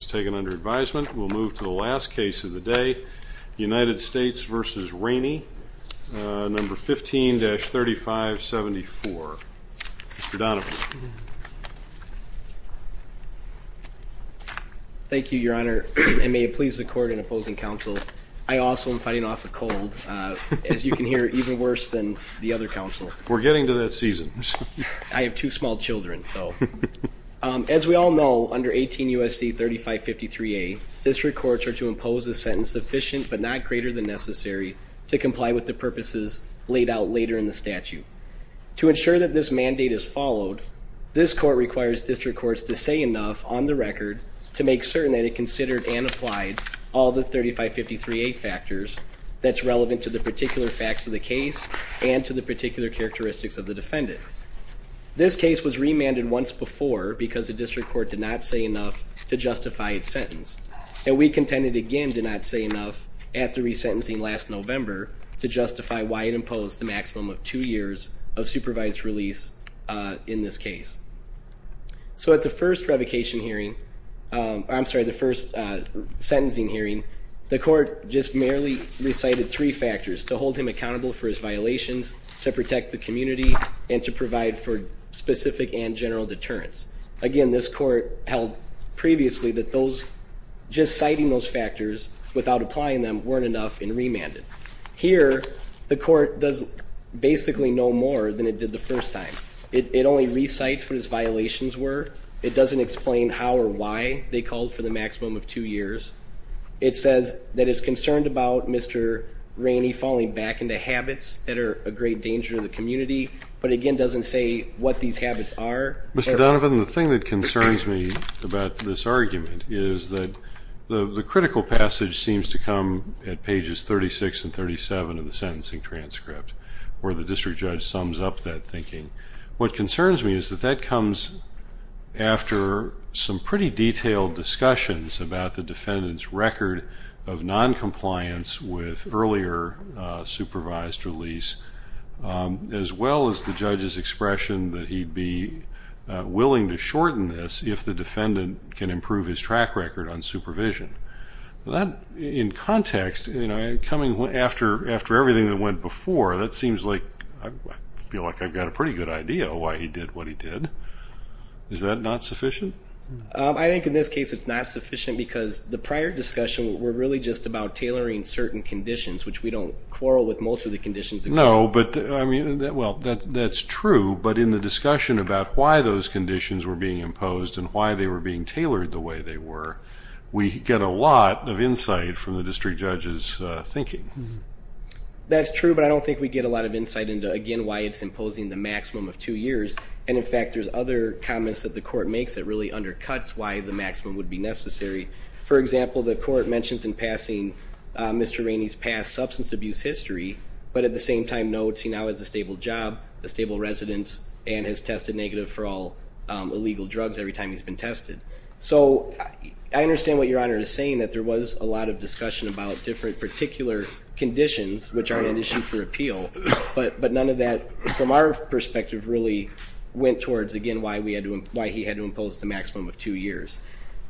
is taken under advisement. We'll move to the last case of the day. United States v. Raney, number 15-3574. Mr. Donovan. Thank you, your honor, and may it please the court and opposing counsel, I also am fighting off a cold, as you can hear, even worse than the other counsel. We're getting to that season. I have two small children, so. As we all know, under 18 U.S.C. 3553A, district courts are to impose a sentence sufficient but not greater than necessary to comply with the purposes laid out later in the statute. To ensure that this mandate is followed, this court requires district courts to say enough on the record to make certain that it considered and applied all the 3553A factors that's relevant to the particular facts of the case and to the particular characteristics of the case. It was remanded once before because the district court did not say enough to justify its sentence, and we contended again did not say enough at the resentencing last November to justify why it imposed the maximum of two years of supervised release in this case. So at the first revocation hearing, I'm sorry, the first sentencing hearing, the court just merely recited three factors to hold him accountable for his violations, to protect the community, and to provide for specific and general deterrence. Again, this court held previously that those, just citing those factors without applying them, weren't enough and remanded. Here, the court does basically no more than it did the first time. It only recites what his violations were. It doesn't explain how or why they called for the maximum of two years. It says that it's concerned about Mr. Rainey falling back into habits that are a great danger to the community, but again doesn't say what these habits are. Mr. Donovan, the thing that concerns me about this argument is that the critical passage seems to come at pages 36 and 37 of the sentencing transcript, where the district judge sums up that thinking. What concerns me is that that comes after some pretty detailed discussions about the defendant's record of non-compliance with earlier supervised release, as well as the judge's expression that he'd be willing to shorten this if the defendant can improve his track record on supervision. That, in context, you know, coming after everything that went before, that seems like, I feel like I've got a pretty good idea of why he did what he did. Is that not sufficient? I think in this case it's not sufficient because the prior discussion were really just about tailoring certain conditions, which we don't quarrel with most of the conditions. No, but I mean, well, that's true, but in the discussion about why those conditions were being imposed and why they were being tailored the way they were, we get a lot of insight from the district judge's thinking. That's true, but I don't think we get a lot of insight into, again, why it's imposing the maximum of two years, and in fact there's other comments that the court makes that really undercuts why the maximum would be necessary. For example, the court mentions in passing Mr. Rainey's past substance abuse history, but at the same time notes he now has a stable job, a stable residence, and has tested negative for all illegal drugs every time he's been tested. So I understand what Your Honor is saying, that there was a lot of discussion about different particular conditions which aren't an issue for appeal, but none of that, from our perspective, really went towards, again, why he had to impose the maximum of two years.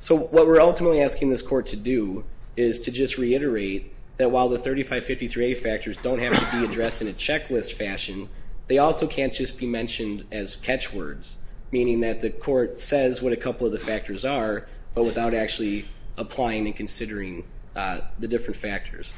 So what we're ultimately asking this court to do is to just reiterate that while the 3553A factors don't have to be addressed in a checklist fashion, they also can't just be mentioned as catchwords, meaning that the court says what a couple of the factors are, but without actually applying and considering the different factors.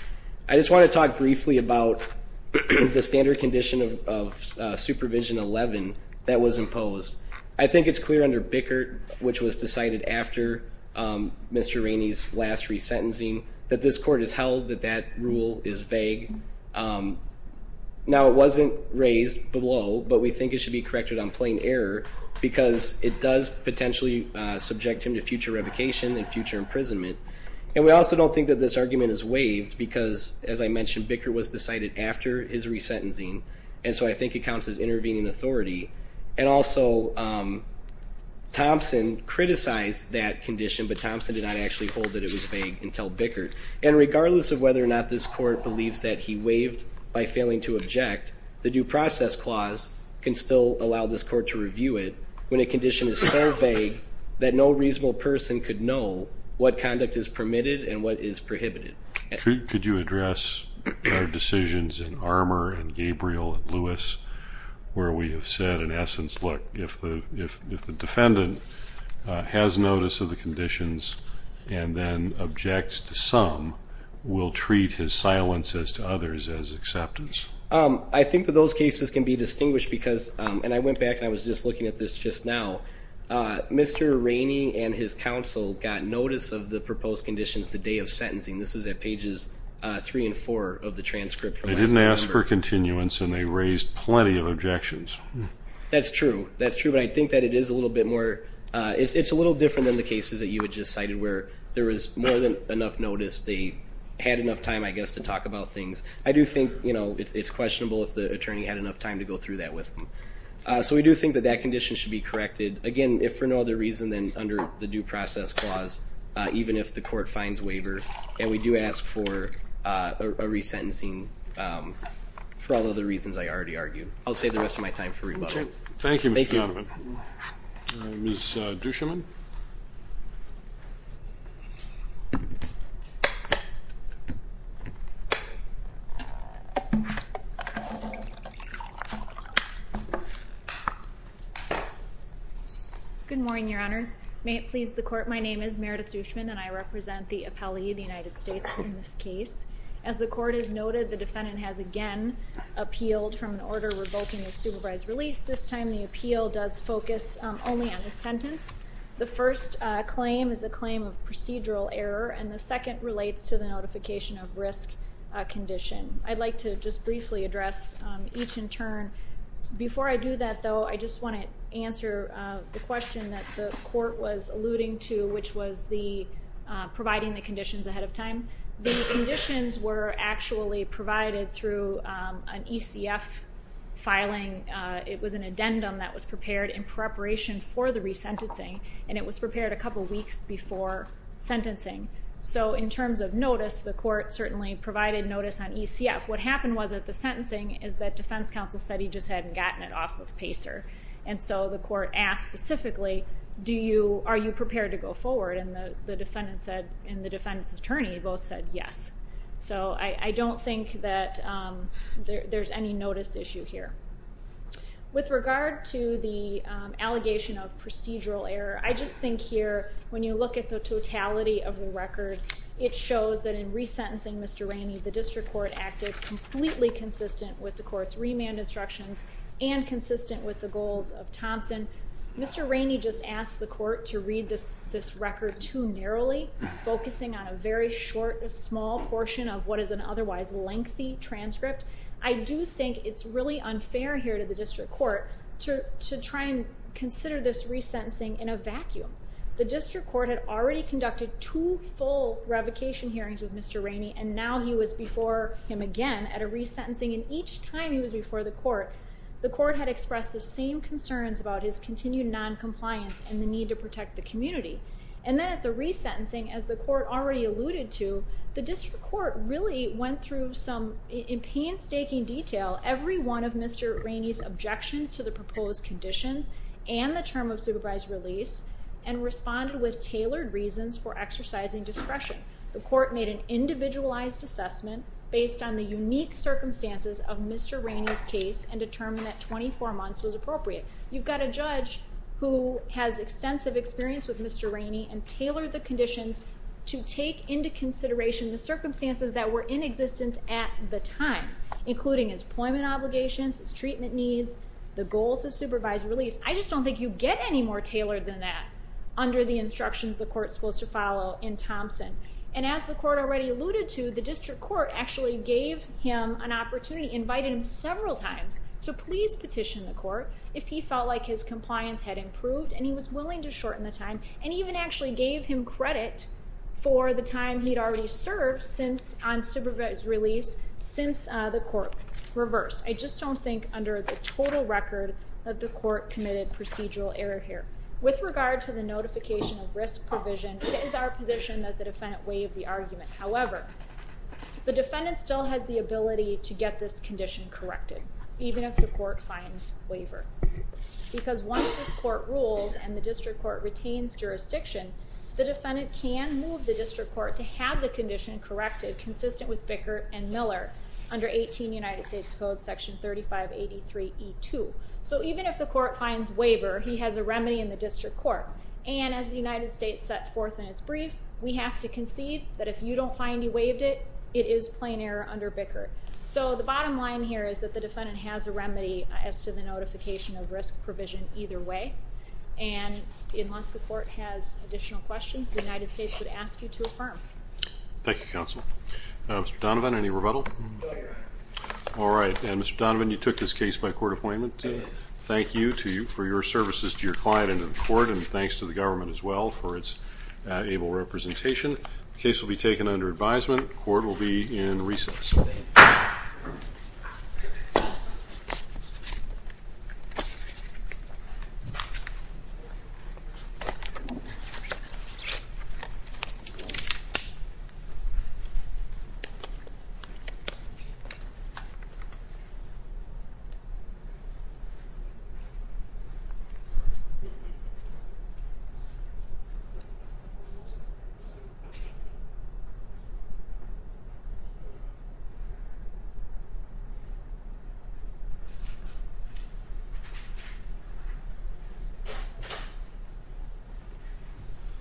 I just want to talk briefly about the standard condition of Supervision 11 that was imposed. I think it's clear under Bickert, which was decided after Mr. Rainey's last resentencing, that this court has held that that rule is vague. Now it wasn't raised below, but we think it should be corrected on plain error because it does potentially subject him to future revocation and future imprisonment. And we also don't think that this argument is waived because, as I mentioned, Bickert was decided after his resentencing, and so I think it counts as intervening authority. And also, Thompson criticized that condition, but Thompson did not actually hold that it was vague until Bickert. And regardless of whether or not this court believes that he waived by failing to object, the Due Process Clause can still allow this court to review it when a condition is so vague that no reasonable person could know what conduct is permitted and what is prohibited. Could you address our where we have said, in essence, look, if the defendant has notice of the conditions and then objects to some, we'll treat his silence as to others as acceptance. I think that those cases can be distinguished because, and I went back and I was just looking at this just now, Mr. Rainey and his counsel got notice of the proposed conditions the day of sentencing. This is at pages 3 and 4 of the transcript. They didn't ask for continuance and they raised plenty of objections. That's true, that's true, but I think that it is a little bit more, it's a little different than the cases that you had just cited where there was more than enough notice, they had enough time, I guess, to talk about things. I do think, you know, it's questionable if the attorney had enough time to go through that with them. So we do think that that condition should be corrected, again, if for no other reason than under the Due Process Clause, even if the court finds waiver, and we do ask for a re-sentencing for all other reasons I already argued. I'll save the rest of my time for rebuttal. Thank you, Mr. Guffin. Ms. Duschman? Good morning, Your Honors. May it please the court, my name is Meredith Duschman and I represent the appellee of the United States in this case. As the court has noted, the defendant has again appealed from an order revoking the supervised release. This time the appeal does focus only on a sentence. The first claim is a claim of procedural error and the second relates to the notification of risk condition. I'd like to just briefly address each in turn. Before I do that, though, I just want to answer the question that the court was alluding to, which was the providing the conditions ahead of time. The conditions were actually provided through an ECF filing. It was an addendum that was prepared in preparation for the re-sentencing and it was prepared a couple weeks before sentencing. So in terms of notice, the court certainly provided notice on ECF. What happened was that the sentencing is that defense counsel said he just hadn't gotten it off of PACER and so the court asked specifically, are you prepared to go forward? And the defendant said, and the defendant's attorney both said yes. So I don't think that there's any notice issue here. With regard to the allegation of procedural error, I just think here when you look at the totality of the record, it shows that in re-sentencing Mr. Rainey, the district court acted completely consistent with the court's remand instructions and consistent with the goals of Thompson. Mr. Rainey just asked the court to read this record too narrowly, focusing on a very short, a small portion of what is an otherwise lengthy transcript. I do think it's really unfair here to the district court to try and consider this re-sentencing in a vacuum. The district court had already conducted two full revocation hearings with Mr. Rainey and now he was before him again at a re-sentencing and each time he was before the court, the court had expressed the same concerns about his continued non-compliance and the need to protect the community. And then at the re-sentencing, as the court already alluded to, the district court really went through some in painstaking detail every one of Mr. Rainey's objections to the proposed conditions and the term of supervised release and responded with tailored reasons for exercising discretion. The court made an individualized assessment based on the unique circumstances of Mr. Rainey's case and determined that 24 months was appropriate. You've got a judge who has extensive experience with Mr. Rainey and tailored the conditions to take into consideration the circumstances that were in existence at the time, including his appointment obligations, his treatment needs, the goals of supervised release. I just don't think you get any more tailored than that under the instructions the court's supposed to follow in Thompson. And as the court said several times, to please petition the court if he felt like his compliance had improved and he was willing to shorten the time and even actually gave him credit for the time he'd already served on supervised release since the court reversed. I just don't think under the total record that the court committed procedural error here. With regard to the notification of risk provision, it is our position that the defendant waive the argument. However, the defendant can have the condition corrected even if the court finds waiver. Because once this court rules and the district court retains jurisdiction, the defendant can move the district court to have the condition corrected consistent with Bickert and Miller under 18 United States Code section 3583E2. So even if the court finds waiver, he has a remedy in the district court. And as the United States set forth in its brief, we have to concede that if you don't find he waived it, it is plain error under Bickert. So the bottom line here is that the defendant has a remedy as to the notification of risk provision either way. And unless the court has additional questions, the United States would ask you to affirm. Thank you counsel. Mr. Donovan, any rebuttal? All right. And Mr. Donovan, you took this case by court appointment. Thank you for your services to your client and to the court and thanks to the government as well for its able representation. The case will be taken under advisement. Court will be in recess.